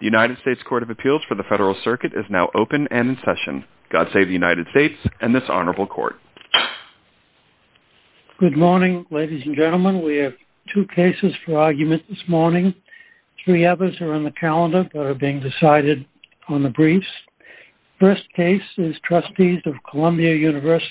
The United States Court of Appeals for the Federal Circuit is now open and in session. God save the United States and this honorable court. Good morning ladies and gentlemen. We have two cases for argument this morning. Three others are on the calendar that are being decided on the briefs. First case is Trustees of Columbia Univ. of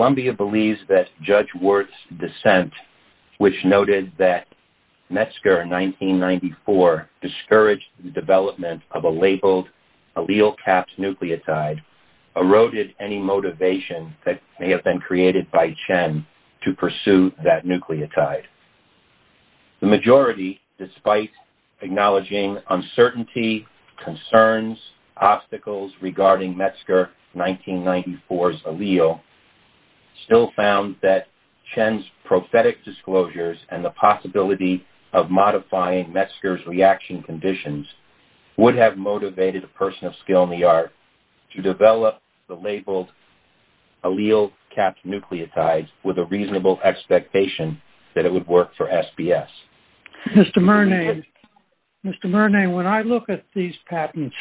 Columbia believes that Judge Worth's dissent, which noted that Metzger in 1994 discouraged the development of a labeled allele-capped nucleotide, eroded any motivation that may have been created by Chen to pursue that nucleotide. The majority, despite acknowledging uncertainty, concerns, obstacles regarding Metzger 1994's allele, still found that Chen's prophetic disclosures and the possibility of modifying Metzger's reaction conditions would have motivated a person of skill in the art to develop the labeled allele-capped nucleotides with a reasonable expectation that it would work for SBS. Mr. Murnay, Mr. Murnay, when I look at these patents,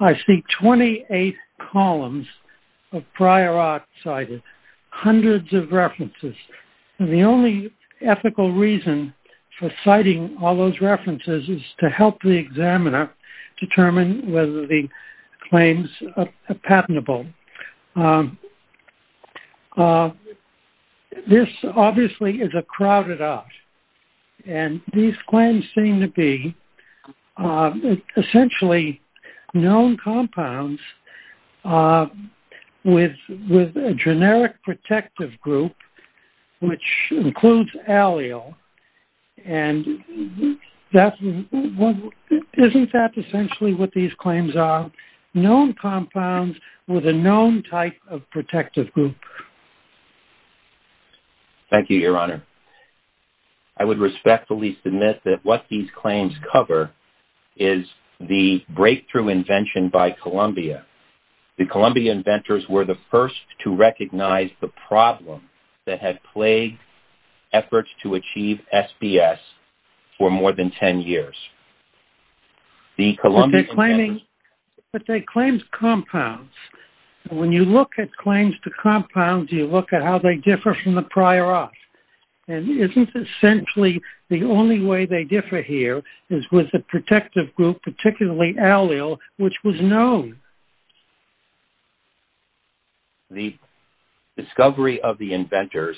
I see 28 columns of prior art cited, hundreds of references, and the only ethical reason for citing all those references is to help the examiner determine whether the claim is true. This obviously is a crowded art, and these claims seem to be essentially known compounds with a generic protective group, which includes allele, and isn't that essentially what these claims are? Known compounds with a known type of protective group. Thank you, your honor. I would respectfully submit that what these claims cover is the breakthrough invention by Columbia. The Columbia inventors were the first to recognize the problem that had plagued efforts to achieve SBS for more than 10 years. The claims compounds, when you look at claims to compounds, you look at how they differ from the prior art, and isn't essentially the only way they differ here is with the protective group, particularly allele, which was known. The discovery of the inventors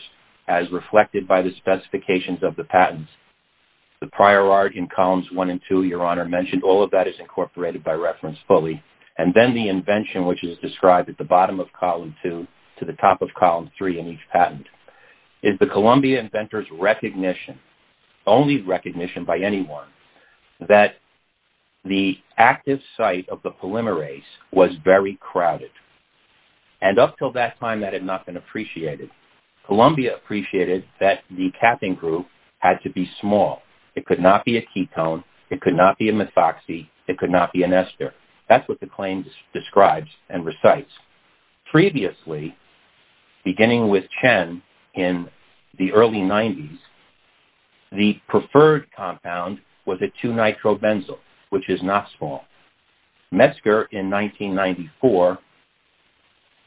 as reflected by the specifications of the patents, the prior art in columns one and two, your honor, mentioned all of that is and then the invention which is described at the bottom of column two to the top of column three in each patent, is the Columbia inventors recognition, only recognition by anyone, that the active site of the polymerase was very crowded, and up till that time that had not been appreciated. Columbia appreciated that the capping group had to be small. It could not be a ketone, it could not be methoxy, it could not be an ester. That's what the claims describes and recites. Previously, beginning with Chen in the early 90s, the preferred compound was a 2-nitrobenzyl, which is not small. Metzger in 1994,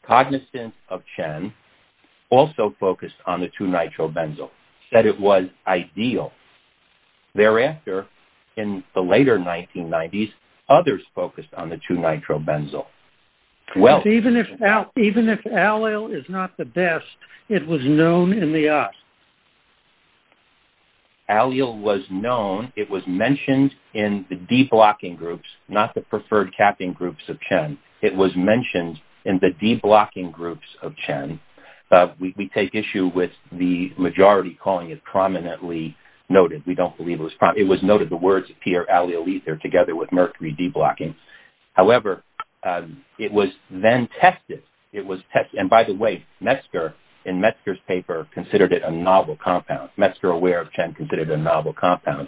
cognizant of Chen, also focused on the 2-nitrobenzyl, said it was ideal. Thereafter, in the later 1990s, others focused on the 2-nitrobenzyl. Even if allele is not the best, it was known in the US. Allele was known, it was mentioned in the deblocking groups, not the preferred capping groups of Chen. It was mentioned in the issue with the majority calling it prominently noted. We don't believe it was prominent. It was noted, the words appear, allelether, together with mercury deblocking. However, it was then tested. It was tested, and by the way, Metzger, in Metzger's paper, considered it a novel compound. Metzger, aware of Chen, considered a novel compound.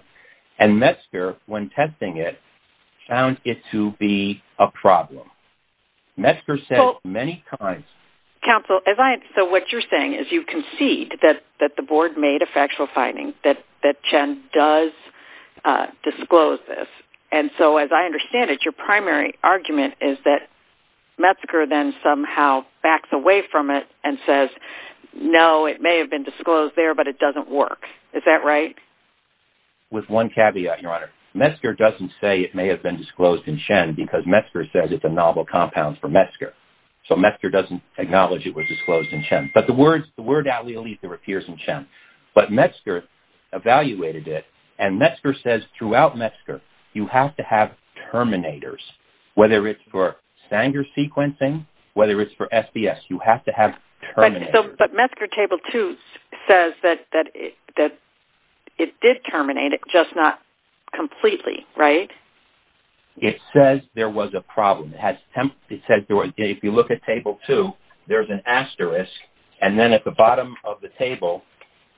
And Metzger, when testing it, found it to be a concede, that the board made a factual finding, that Chen does disclose this. And so, as I understand it, your primary argument is that Metzger then somehow backs away from it and says, no, it may have been disclosed there, but it doesn't work. Is that right? With one caveat, your honor. Metzger doesn't say it may have been disclosed in Chen, because Metzger says it's a novel compound for Metzger. So Metzger doesn't acknowledge it was disclosed in Chen. But the word allelether appears in Chen. But Metzger evaluated it, and Metzger says, throughout Metzger, you have to have terminators. Whether it's for Sanger sequencing, whether it's for SBS, you have to have terminators. But Metzger Table 2 says that it did terminate it, just not completely, right? It says there was a problem. It says, if you look at Table 2, there's an asterisk. And then at the bottom of the table,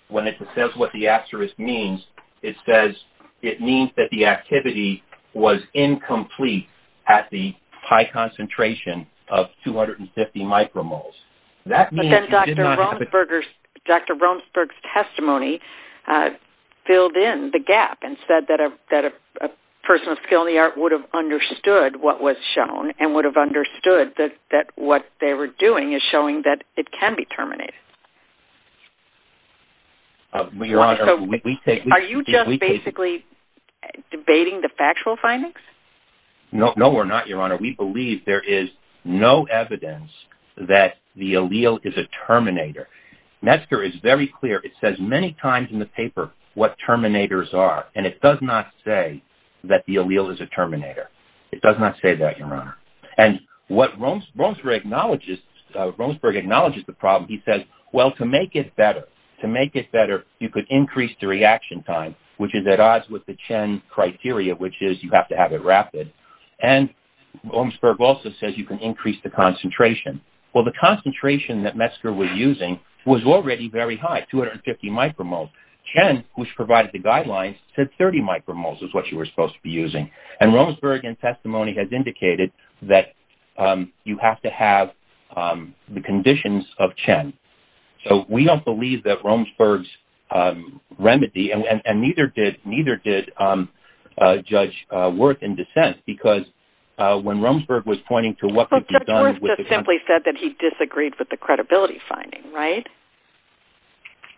when it says what the asterisk means, it says it means that the activity was incomplete at the high concentration of 250 micromoles. That means you did not have a... But then Dr. Romsberg's testimony filled in the gap and said that a person of skill in the art would have understood what was shown and would have understood that what they were doing is showing that it can be terminated. Are you just basically debating the factual findings? No, we're not, Your Honor. We believe there is no evidence that the allele is a terminator. Metzger is very clear. It says many times in the paper what terminators are, and it does not say that the allele is a terminator. It does not say that, Your Honor. And what Romsberg acknowledges, Romsberg acknowledges the problem. He says, well, to make it better, to make it better, you could increase the reaction time, which is at odds with the Chen criteria, which is you have to have it rapid. And Romsberg also says you can increase the concentration. Well, the concentration that Metzger was using was already very high, 250 micromoles. Chen, which provided the guidelines, said 30 micromoles is what you were supposed to be using. And Romsberg in testimony has the conditions of Chen. So we don't believe that Romsberg's remedy, and neither did Judge Wirth in dissent, because when Romsberg was pointing to what could be done... Well, Judge Wirth just simply said that he disagreed with the credibility finding, right?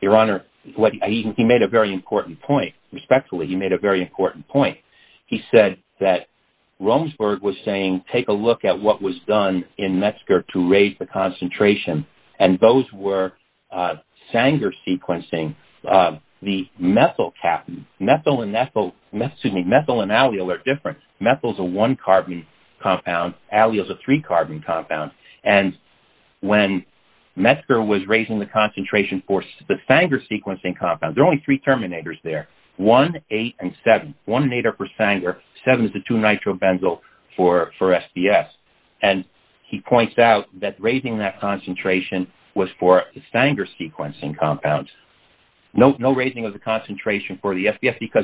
Your Honor, he made a very important point. Respectfully, he made a very important point. He said that Romsberg was saying take a look at what was done in Metzger to raise the concentration. And those were Sanger sequencing. The methyl and allyl are different. Methyl is a one-carbon compound. Allyl is a three-carbon compound. And when Metzger was raising the concentration for the Sanger sequencing compound, there are only three terminators there. 1, 8, and 7. 1 and 8 are for Sanger. 7 is the 2-nitrobenzyl for SDS. And he points out that raising that concentration was for the Sanger sequencing compound. No raising of the concentration for the SDS, because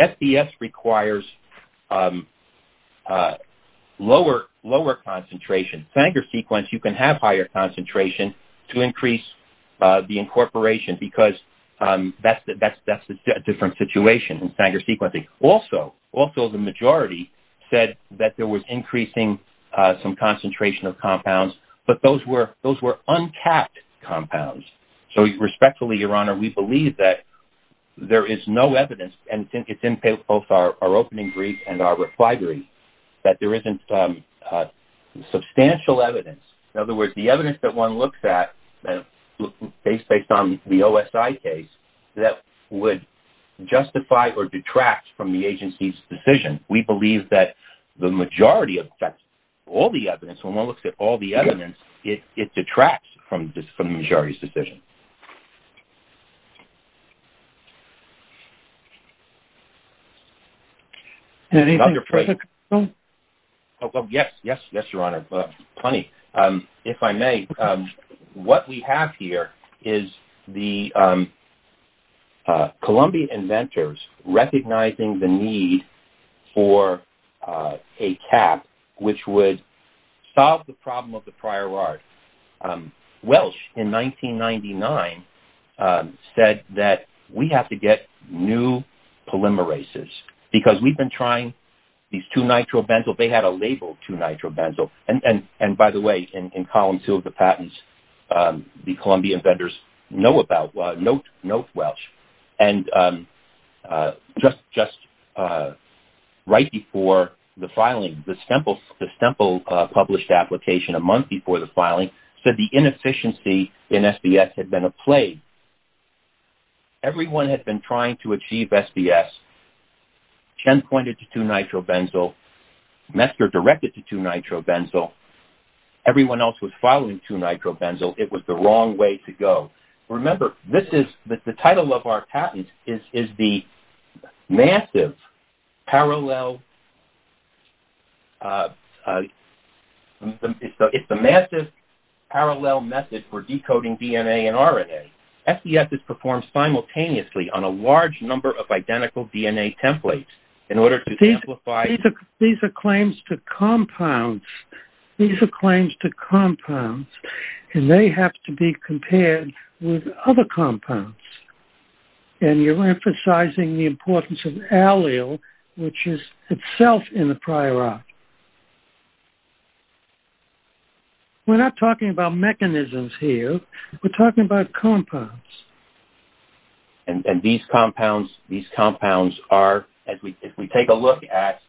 SDS requires lower concentration. Sanger sequence, you can have higher concentration to increase the incorporation, because that's a different situation in Sanger the majority said that there was increasing some concentration of compounds, but those were those were untapped compounds. So respectfully, Your Honor, we believe that there is no evidence, and it's in both our opening brief and our reply brief, that there isn't substantial evidence. In other words, the evidence that one looks at, based on the OSI case, that would justify or detract from the agency's decision. We believe that the majority of that, all the evidence, when one looks at all the evidence, it detracts from the majority's decision. Yes, yes, yes, Your Honor, plenty. If I may, what we have here is the Colombian inventors recognizing the need for a cap, which would solve the problem of the prior art. Welsh, in 1999, said that we have to get new polymerases, because we've been trying these two nitrobenzyl, they had a label two nitrobenzyl, and by the way, in column two of the patents, the Colombian vendors know about, note Welsh, and just right before the filing, the Semple published application a month before the filing, said the inefficiency in SBS had been a plague. Everyone had been trying to achieve SBS, Chen pointed to two nitrobenzyl, Metzger directed to two nitrobenzyl, everyone else was following two nitrobenzyl, it was the wrong way to go. Remember, this is, the it's the massive parallel method for decoding DNA and RNA. SBS is performed simultaneously on a large number of identical DNA templates in order to These are claims to compounds, these are claims to compounds, and they have to be compared with other compounds, and you're emphasizing the importance of allyl, which is itself in the prior act. We're not talking about mechanisms here, we're talking about compounds. And these compounds, these compounds are, as we take a look at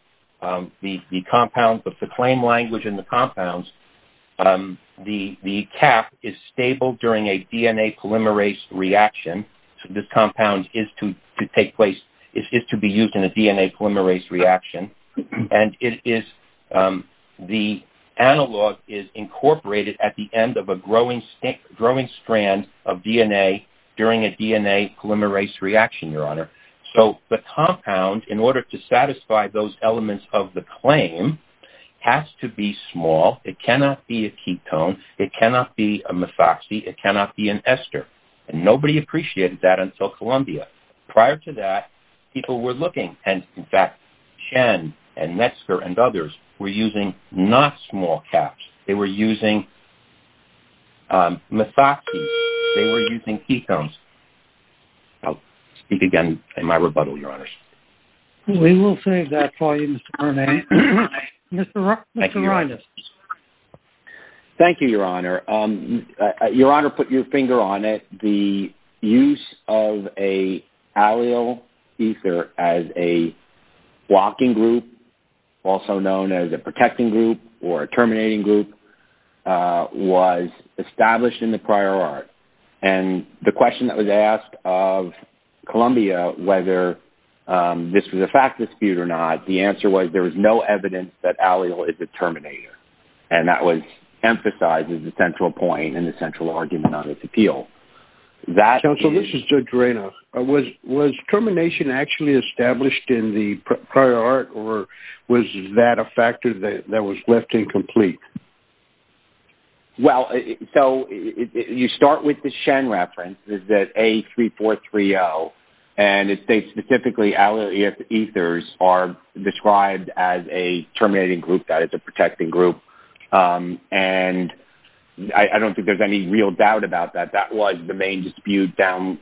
the compounds, the claim language in the compounds, the cap is stable during a DNA polymerase reaction, so this compound is to take place, is to be used in a DNA polymerase reaction, and it is, the analog is incorporated at the end of a growing, growing strand of DNA during a DNA polymerase reaction, Your Honor. So the compound, in order to satisfy those elements of the claim, has to be small, it cannot be a ketone, it cannot be a methoxy, it cannot be an Columbia. Prior to that, people were looking, and in fact, Chen and Metzger and others were using not small caps, they were using methoxy, they were using ketones. I'll speak again in my rebuttal, Your Honors. We will save that for you, Mr. Rennes. Mr. Rennes. Thank you, Your Honor. Your Honor, put your finger on it, the use of a allyl ether as a blocking group, also known as a protecting group or a terminating group, was established in the prior art, and the question that was asked of Columbia, whether this was a fact dispute or not, the answer was there was no evidence that allyl is a terminator, and that was emphasized as the central point and the central argument on this appeal. Counsel, this is Judge Rennes. Was termination actually established in the prior art, or was that a factor that was left incomplete? Well, so you start with the Chen reference, is that A3430, and it states specifically allyl ethers are described as a protecting group, and I don't think there's any real doubt about that. That was the main dispute down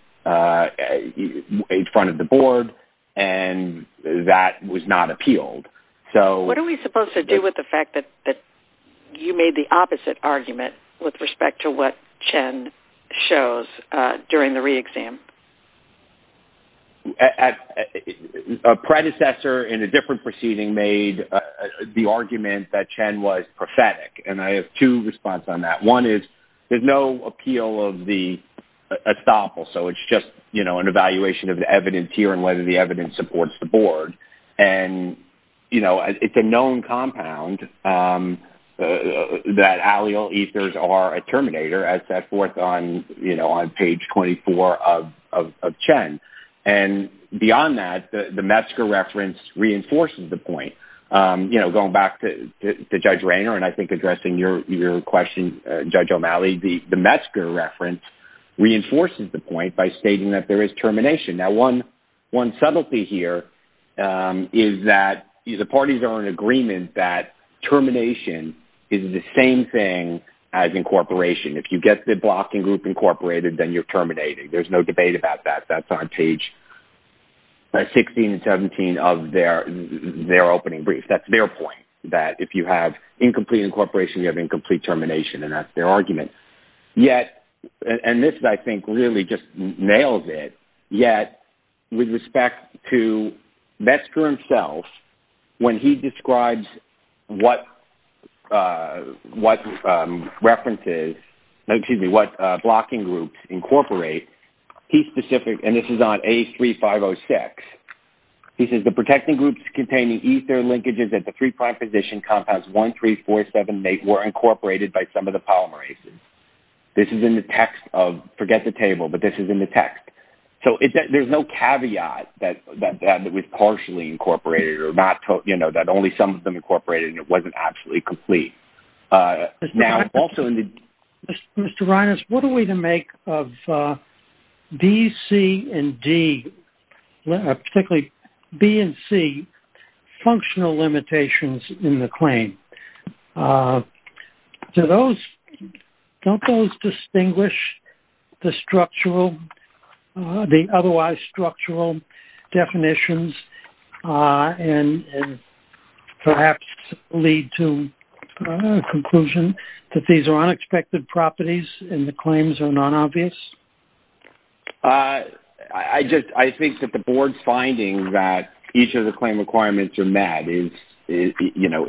in front of the board, and that was not appealed. So what are we supposed to do with the fact that you made the opposite argument with respect to what Chen shows during the re-exam? A predecessor in a different proceeding made the argument that Chen was prophetic, and I have two response on that. One is there's no appeal of the estoppel, so it's just, you know, an evaluation of the evidence here and whether the evidence supports the board, and, you know, it's a known compound that allyl ethers are a terminator, as set forth on, you know, on page 24 of Chen, and beyond that, the Metzger reference reinforces the point. You know, going back to Judge Rayner, and I think addressing your question, Judge O'Malley, the Metzger reference reinforces the point by stating that there is termination. Now, one subtlety here is that the parties are in agreement that termination is the same thing as incorporation. If you get the blocking group incorporated, then you're terminating. There's no debate about that. That's on page 16 and 17 of their opening brief. That's their point, that if you have incomplete incorporation, you have incomplete termination, and that's their argument. Yet, and this, I think, really just nails it, yet with respect to Metzger himself, when he describes what references, excuse me, what blocking groups incorporate, he's specific, and this is on A3506. He says, the protecting groups containing ether linkages at the three prime position compounds 1, 3, 4, 7, 8 were incorporated by some of the polymerases. This is in the text of, forget the table, but this is in the text. So, there's no caveat that that was partially incorporated or not, you know, that only some of them incorporated, and it wasn't actually complete. Now, also in the... Mr. Reines, what are we to make of B, C, and D, particularly B and C, functional limitations in the claim? Don't those distinguish the structural, the otherwise structural definitions and perhaps lead to a conclusion that these are unexpected properties and the claims are non-obvious? I just, I think that the board's finding that each of the claim requirements are met is, you know,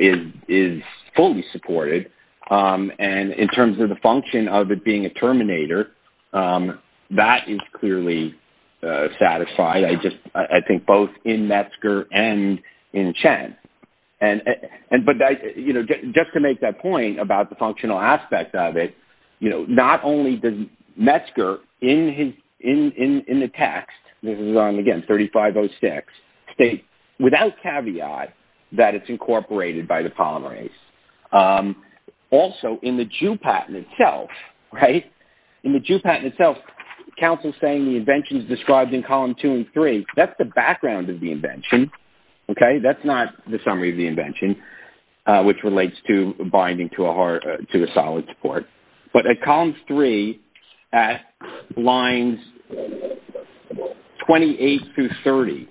is fully supported, and in terms of the function of it being a terminator, that is clearly satisfied. I just, I think both in Metzger and in Chen. And, but, you know, just to make that point about the functional aspect of it, you know, not only does Metzger in the text, this is on, again, 3506, state without caveat that it's incorporated by the polymerase. Also, in the Jew patent itself, right, in the Jew patent itself, counsel's saying the invention's described in column two and three. That's the background of the invention, okay? That's not the summary of the invention, which relates to binding to a hard, to a solid support. But at column three, at lines 28 through 30,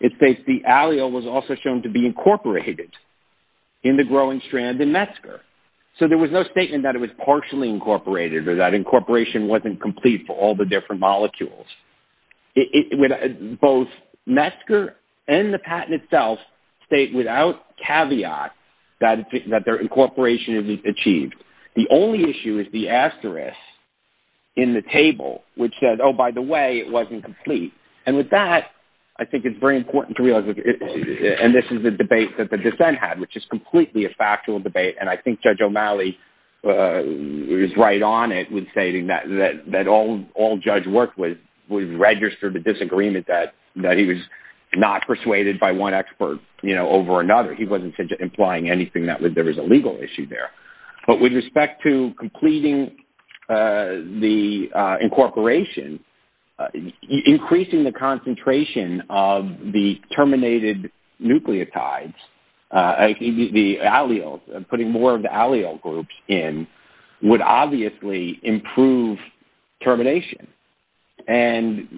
it states the allyl was also shown to be incorporated in the growing strand in Metzger. So, there was no statement that it was partially incorporated or that incorporation wasn't complete for all the different molecules. It, both Metzger and the patent itself state without caveat that their incorporation is achieved. The only issue is the asterisk in the table, which says, oh, by the way, it wasn't complete. And with that, I think it's very important to realize, and this is the debate that the dissent had, which is completely a factual debate, and I think Judge O'Malley was right on it with stating that all judge work was registered with disagreement that he was not persuaded by one expert over another. He wasn't implying anything that there was a legal issue there. But with respect to completing the incorporation, increasing the concentration of the terminated nucleotides, the allyl, putting more of the allyl groups in would obviously improve termination. And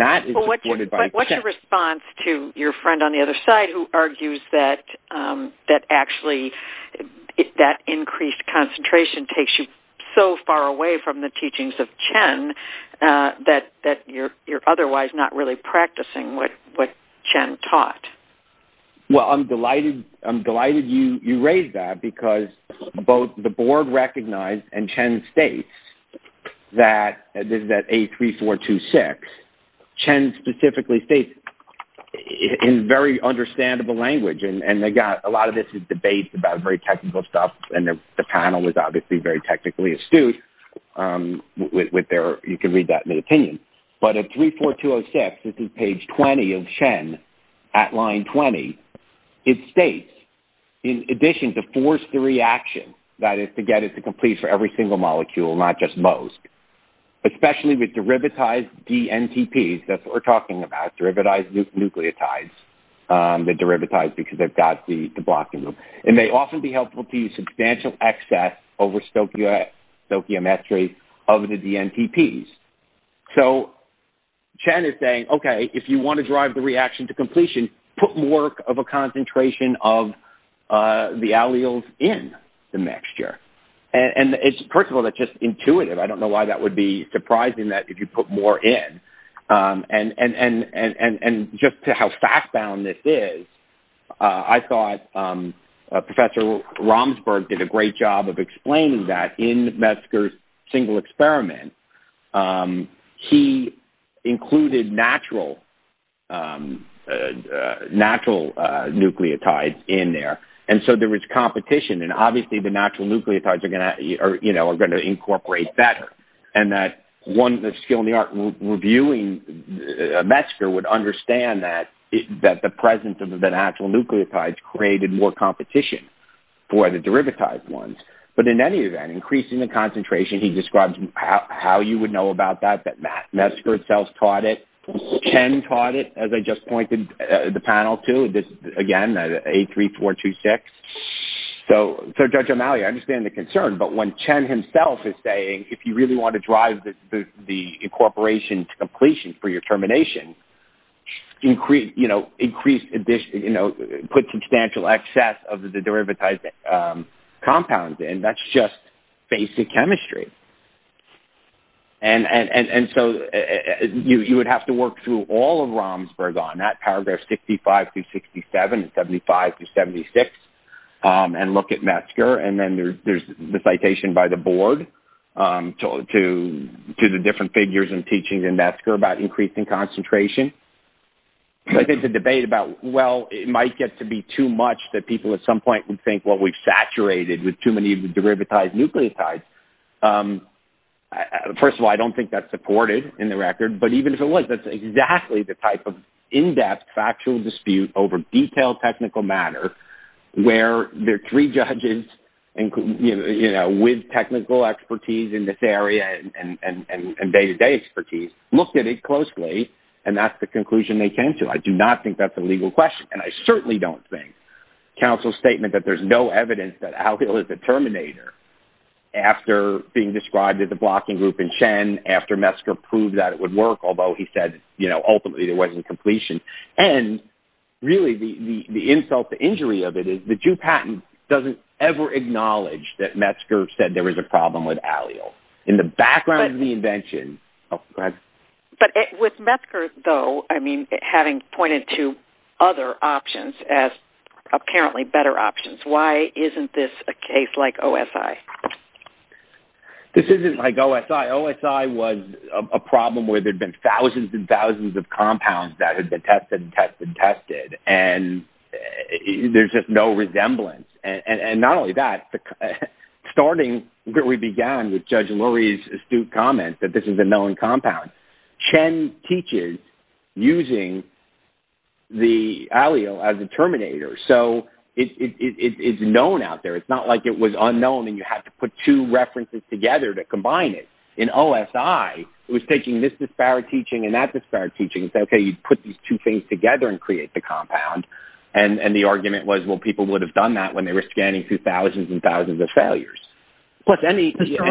that is supported by Chen. But what's your response to your friend on the other side who argues that actually that increased concentration takes you so far away from the teachings of Chen that you're otherwise not really practicing what Chen taught? Well, I'm delighted you raised that because both the board recognized and Chen states that, this is at A3426, Chen specifically states in very understandable language, and they got a lot of this debate about very technical stuff, and the panel was obviously very technically astute with their, you can read that in the opinion. But at A34206, this is page 20 of Chen, at line 20, it states, in addition to force the reaction, that is to get it to complete for every single molecule, not just most, especially with derivatized dNTPs, that's what we're talking about, derivatized nucleotides. They're derivatized because they've got the And they often be helpful to use substantial excess over stoichiometry of the dNTPs. So Chen is saying, okay, if you want to drive the reaction to completion, put more of a concentration of the alleles in the mixture. And it's, first of all, that's just intuitive. I don't know why that would be surprising that if you put more in. And just how fact-bound this is, I thought Professor Romsberg did a great job of explaining that in Metzger's single experiment. He included natural nucleotides in there. And so there was competition. And obviously, the natural nucleotides are going to incorporate better. And that one of the skill in the art reviewing Metzger would understand that the presence of the natural nucleotides created more competition for the derivatized ones. But in any event, increasing the concentration, he describes how you would know about that, that Metzger itself taught it. Chen taught it, as I just pointed the panel to, again, A3426. So Judge O'Malley, I understand the concern. But when Chen himself is saying, if you really want to drive the incorporation to completion for your termination, put substantial excess of the derivatized compounds in, that's just basic chemistry. And so you would have to work through all of Romsberg on that, paragraph 65-67 and 75-76. And look at Metzger. And then there's the citation by the board to the different figures and teachings in Metzger about increasing concentration. I think the debate about, well, it might get to be too much that people at some point would think, well, we've saturated with too many of the derivatized nucleotides. First of all, I don't think that's supported in the record. But even if it was, that's exactly the type of in-depth, factual dispute over detailed technical matter, where there are three judges with technical expertise in this area and day-to-day expertise, looked at it closely, and that's the conclusion they came to. I do not think that's a legal question, and I certainly don't think. Counsel's statement that there's no evidence that alkyl is the terminator, after being described as a blocking group in Chen, after Metzger proved that it would work, although he said, ultimately, there wasn't completion. And really, the insult, the injury of it is the Jew patent doesn't ever acknowledge that Metzger said there was a problem with allyl in the background of the invention. Oh, go ahead. But with Metzger, though, I mean, having pointed to other options as apparently better options, why isn't this a case like OSI? This isn't like OSI. OSI was a problem where there'd been thousands and thousands of compounds that had been tested and tested and tested, and there's just no resemblance. And not only that, starting where we began with Judge Lurie's astute comment that this is a known compound, Chen teaches using the allyl as a terminator. So it's known out there. It's not like it was to put two references together to combine it. In OSI, it was taking this disparate teaching and that disparate teaching and say, okay, you put these two things together and create the compound. And the argument was, well, people would have done that when they were scanning through thousands and thousands of failures. Mr.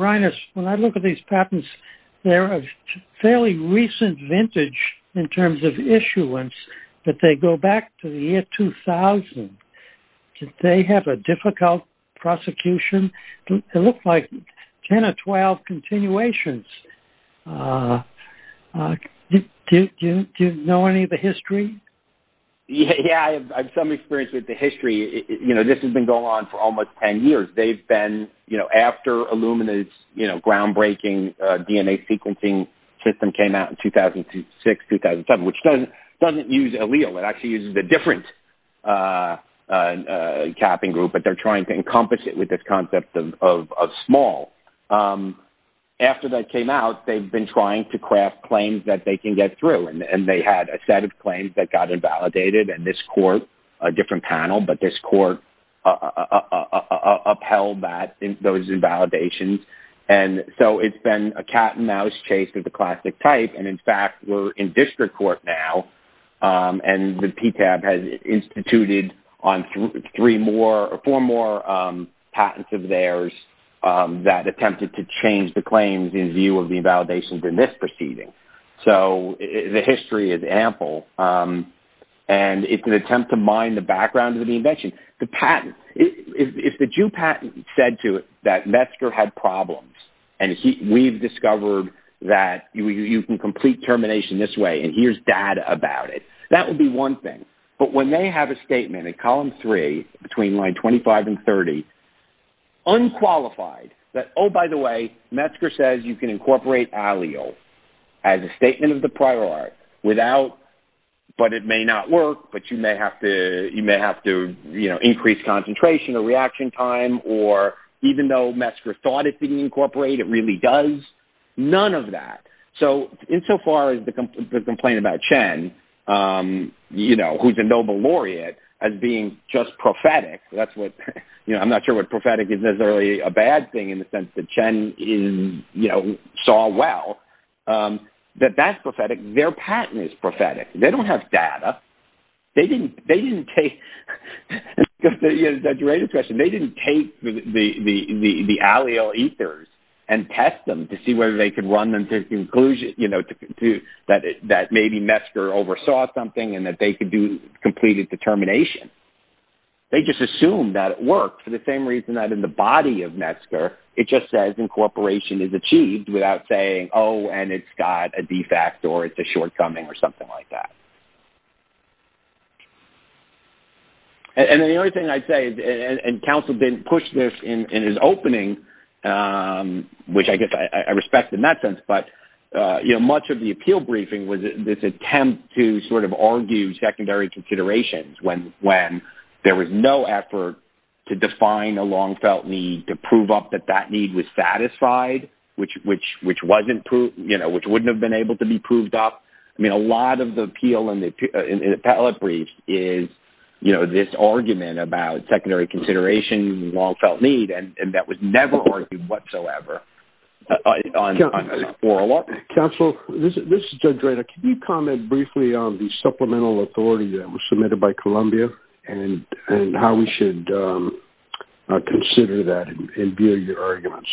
Reines, when I look at these patents, they're a fairly recent vintage in terms of issuance that they go back to the year 2000. Did they have a difficult prosecution? It looked like 10 or 12 continuations. Do you know any of the history? Yeah, I have some experience with the history. This has been going on for almost 10 years. They've been, after Illumina's groundbreaking DNA sequencing system came out in 2006, 2007, which doesn't use allyl. It actually uses a different capping group, but they're trying to encompass it with this concept of small. After that came out, they've been trying to craft claims that they can get through. And they had a set of claims that got invalidated and this court, a different panel, but this court upheld those invalidations. And so it's been a cat and mouse chase with the classic type. And in fact, we're in district court now, and the PTAB has instituted on three more or four more patents of theirs that attempted to change the claims in view of the invalidations in this proceeding. So the history is ample. And it's an attempt to mine the background of the invention. The patent, if the Jew patent said to it that Metzger had problems, and we've discovered that you can complete termination this way, and here's data about it, that would be one thing. But when they have a statement in column three, between line 25 and 30, unqualified that, oh, by the way, Metzger says you can incorporate allyl as a statement of the prior art without, but it may not work, but you may have to, you may have to, you know, increase concentration or does, none of that. So insofar as the complaint about Chen, you know, who's a Nobel Laureate, as being just prophetic, that's what, you know, I'm not sure what prophetic is necessarily a bad thing in the sense that Chen is, you know, saw well, that that's prophetic. Their patent is prophetic. They don't have data. They didn't, they didn't take, that's a great question, they didn't take the allyl ethers and test them to see whether they could run them to conclusion, you know, to, that maybe Metzger oversaw something and that they could do completed determination. They just assumed that it worked for the same reason that in the body of Metzger, it just says incorporation is achieved without saying, oh, and it's got a defect or it's a push this in his opening, which I guess I respect in that sense. But, you know, much of the appeal briefing was this attempt to sort of argue secondary considerations when there was no effort to define a long felt need to prove up that that need was satisfied, which wasn't proved, you know, which wouldn't have been able to be proved up. I mean, a lot of the appeal in the appellate brief is, you know, this argument about secondary consideration, long felt need, and that was never argued whatsoever. Counsel, this is Judge Rayner. Can you comment briefly on the supplemental authority that was submitted by Columbia and how we should consider that in view of your arguments?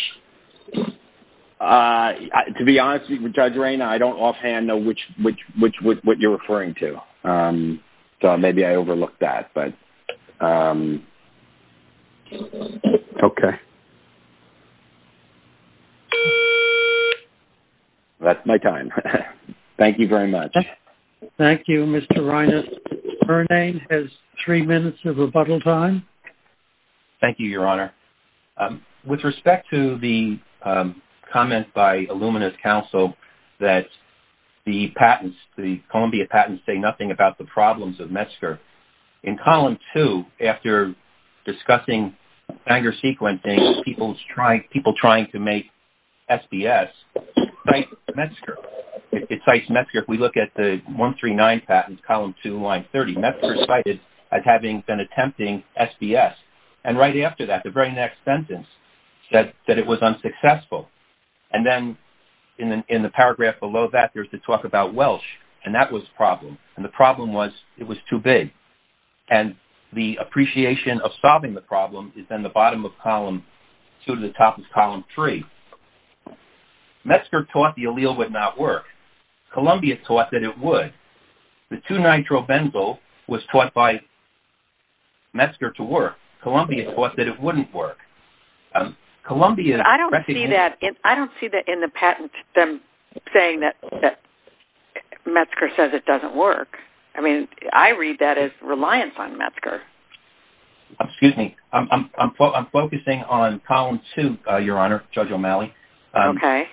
Uh, to be honest with Judge Rayner, I don't offhand know which, which, which, what you're referring to. Um, so maybe I overlooked that, but, um, okay. That's my time. Thank you very much. Thank you, Mr. Reines. Her name has three minutes of rebuttal time. Thank you, Your Honor. Um, with respect to the, um, comment by Illumina's counsel that the patents, the Columbia patents say nothing about the problems of METSCR. In column two, after discussing anger sequencing, people's trying, people trying to make SPS, cite METSCR. It cites METSCR. If we look at the 139 patents, column two, line 30, METSCR is cited as having been attempting SPS. And right after that, the very next sentence said that it was unsuccessful. And then in the, in the paragraph below that, there's the talk about Welsh, and that was a problem. And the problem was it was too big. And the appreciation of solving the problem is then the bottom of column two to the top of column three. METSCR taught the METSCR to work. Columbia thought that it wouldn't work. Columbia- I don't see that. I don't see that in the patent, them saying that, that METSCR says it doesn't work. I mean, I read that as reliance on METSCR. Excuse me. I'm, I'm, I'm focusing on column two, Your Honor, Judge O'Malley. Okay.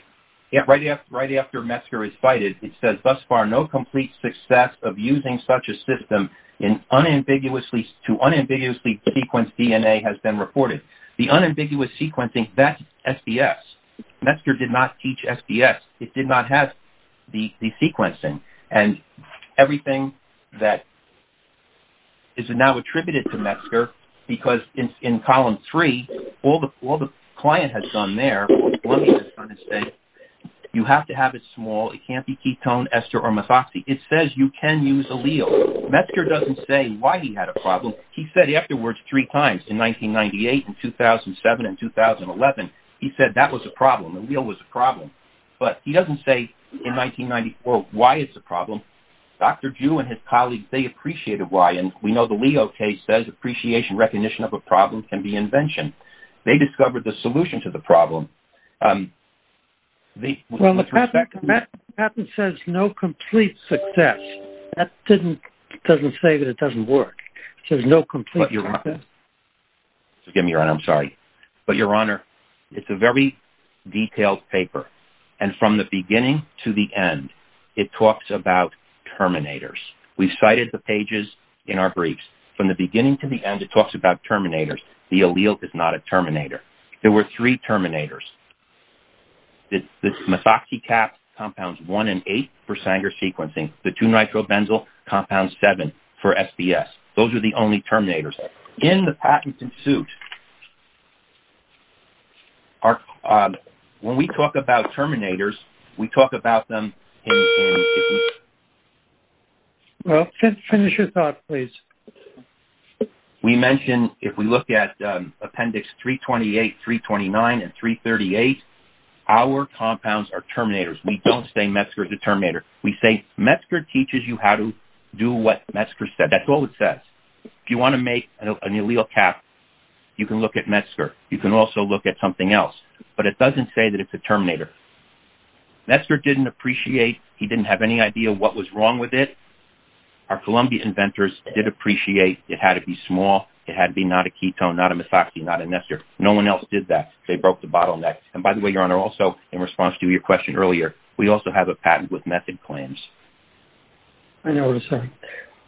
Yeah. Right after, right after METSCR is cited, it says thus far, no complete success of using such a system in unambiguously, to unambiguously sequence DNA has been reported. The unambiguous sequencing, that's SPS. METSCR did not teach SPS. It did not have the, the sequencing. And everything that is now attributed to METSCR, because in, in column three, all the, all the client has done there, Columbia has done is say, you have to have it small. It can't be ketone, ester, or methoxy. It says you can use allele. METSCR doesn't say why he had a problem. He said afterwards, three times in 1998 and 2007 and 2011, he said that was a problem. Allele was a problem. But he doesn't say in 1994, why it's a problem. Dr. Ju and his colleagues, they appreciated why. And we know the Leo case says appreciation, recognition of a problem can be invention. They discovered the solution to the problem. Um, the, well, the patent says no complete success. That didn't, doesn't say that it doesn't work. So there's no complete. Give me your honor. I'm sorry. But your honor, it's a very detailed paper. And from the beginning to the end, it talks about terminators. We've cited the pages in our briefs from the beginning to the end, it talks about terminators. The allele is not a terminator. There were three terminators. The methoxy cap compounds one and eight for Sanger sequencing. The two nitrobenzyl compounds seven for SDS. Those are the only terminators. In the patent in suit, our, um, when we talk about terminators, we talk about them. Um, we mentioned, if we look at, um, appendix three 28, three 29 and three 38, our compounds are terminators. We don't say Metzger is a terminator. We say Metzger teaches you how to do what Metzger said. That's all it says. If you want to make an allele cap, you can look at Metzger. You can also look at something else, but it doesn't say that it's a terminator. Metzger didn't appreciate, he didn't have any idea what was wrong with it. Our Columbia inventors did appreciate it had to be small. It had to be not a ketone, not a methoxy, not a Nestor. No one else did that. They broke the bottleneck. And by the way, your honor, also in response to your question earlier, we also have a patent with method claims. I know what I'm saying.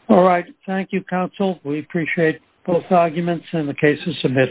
All right. Thank you, counsel. We appreciate both arguments and the cases submitted.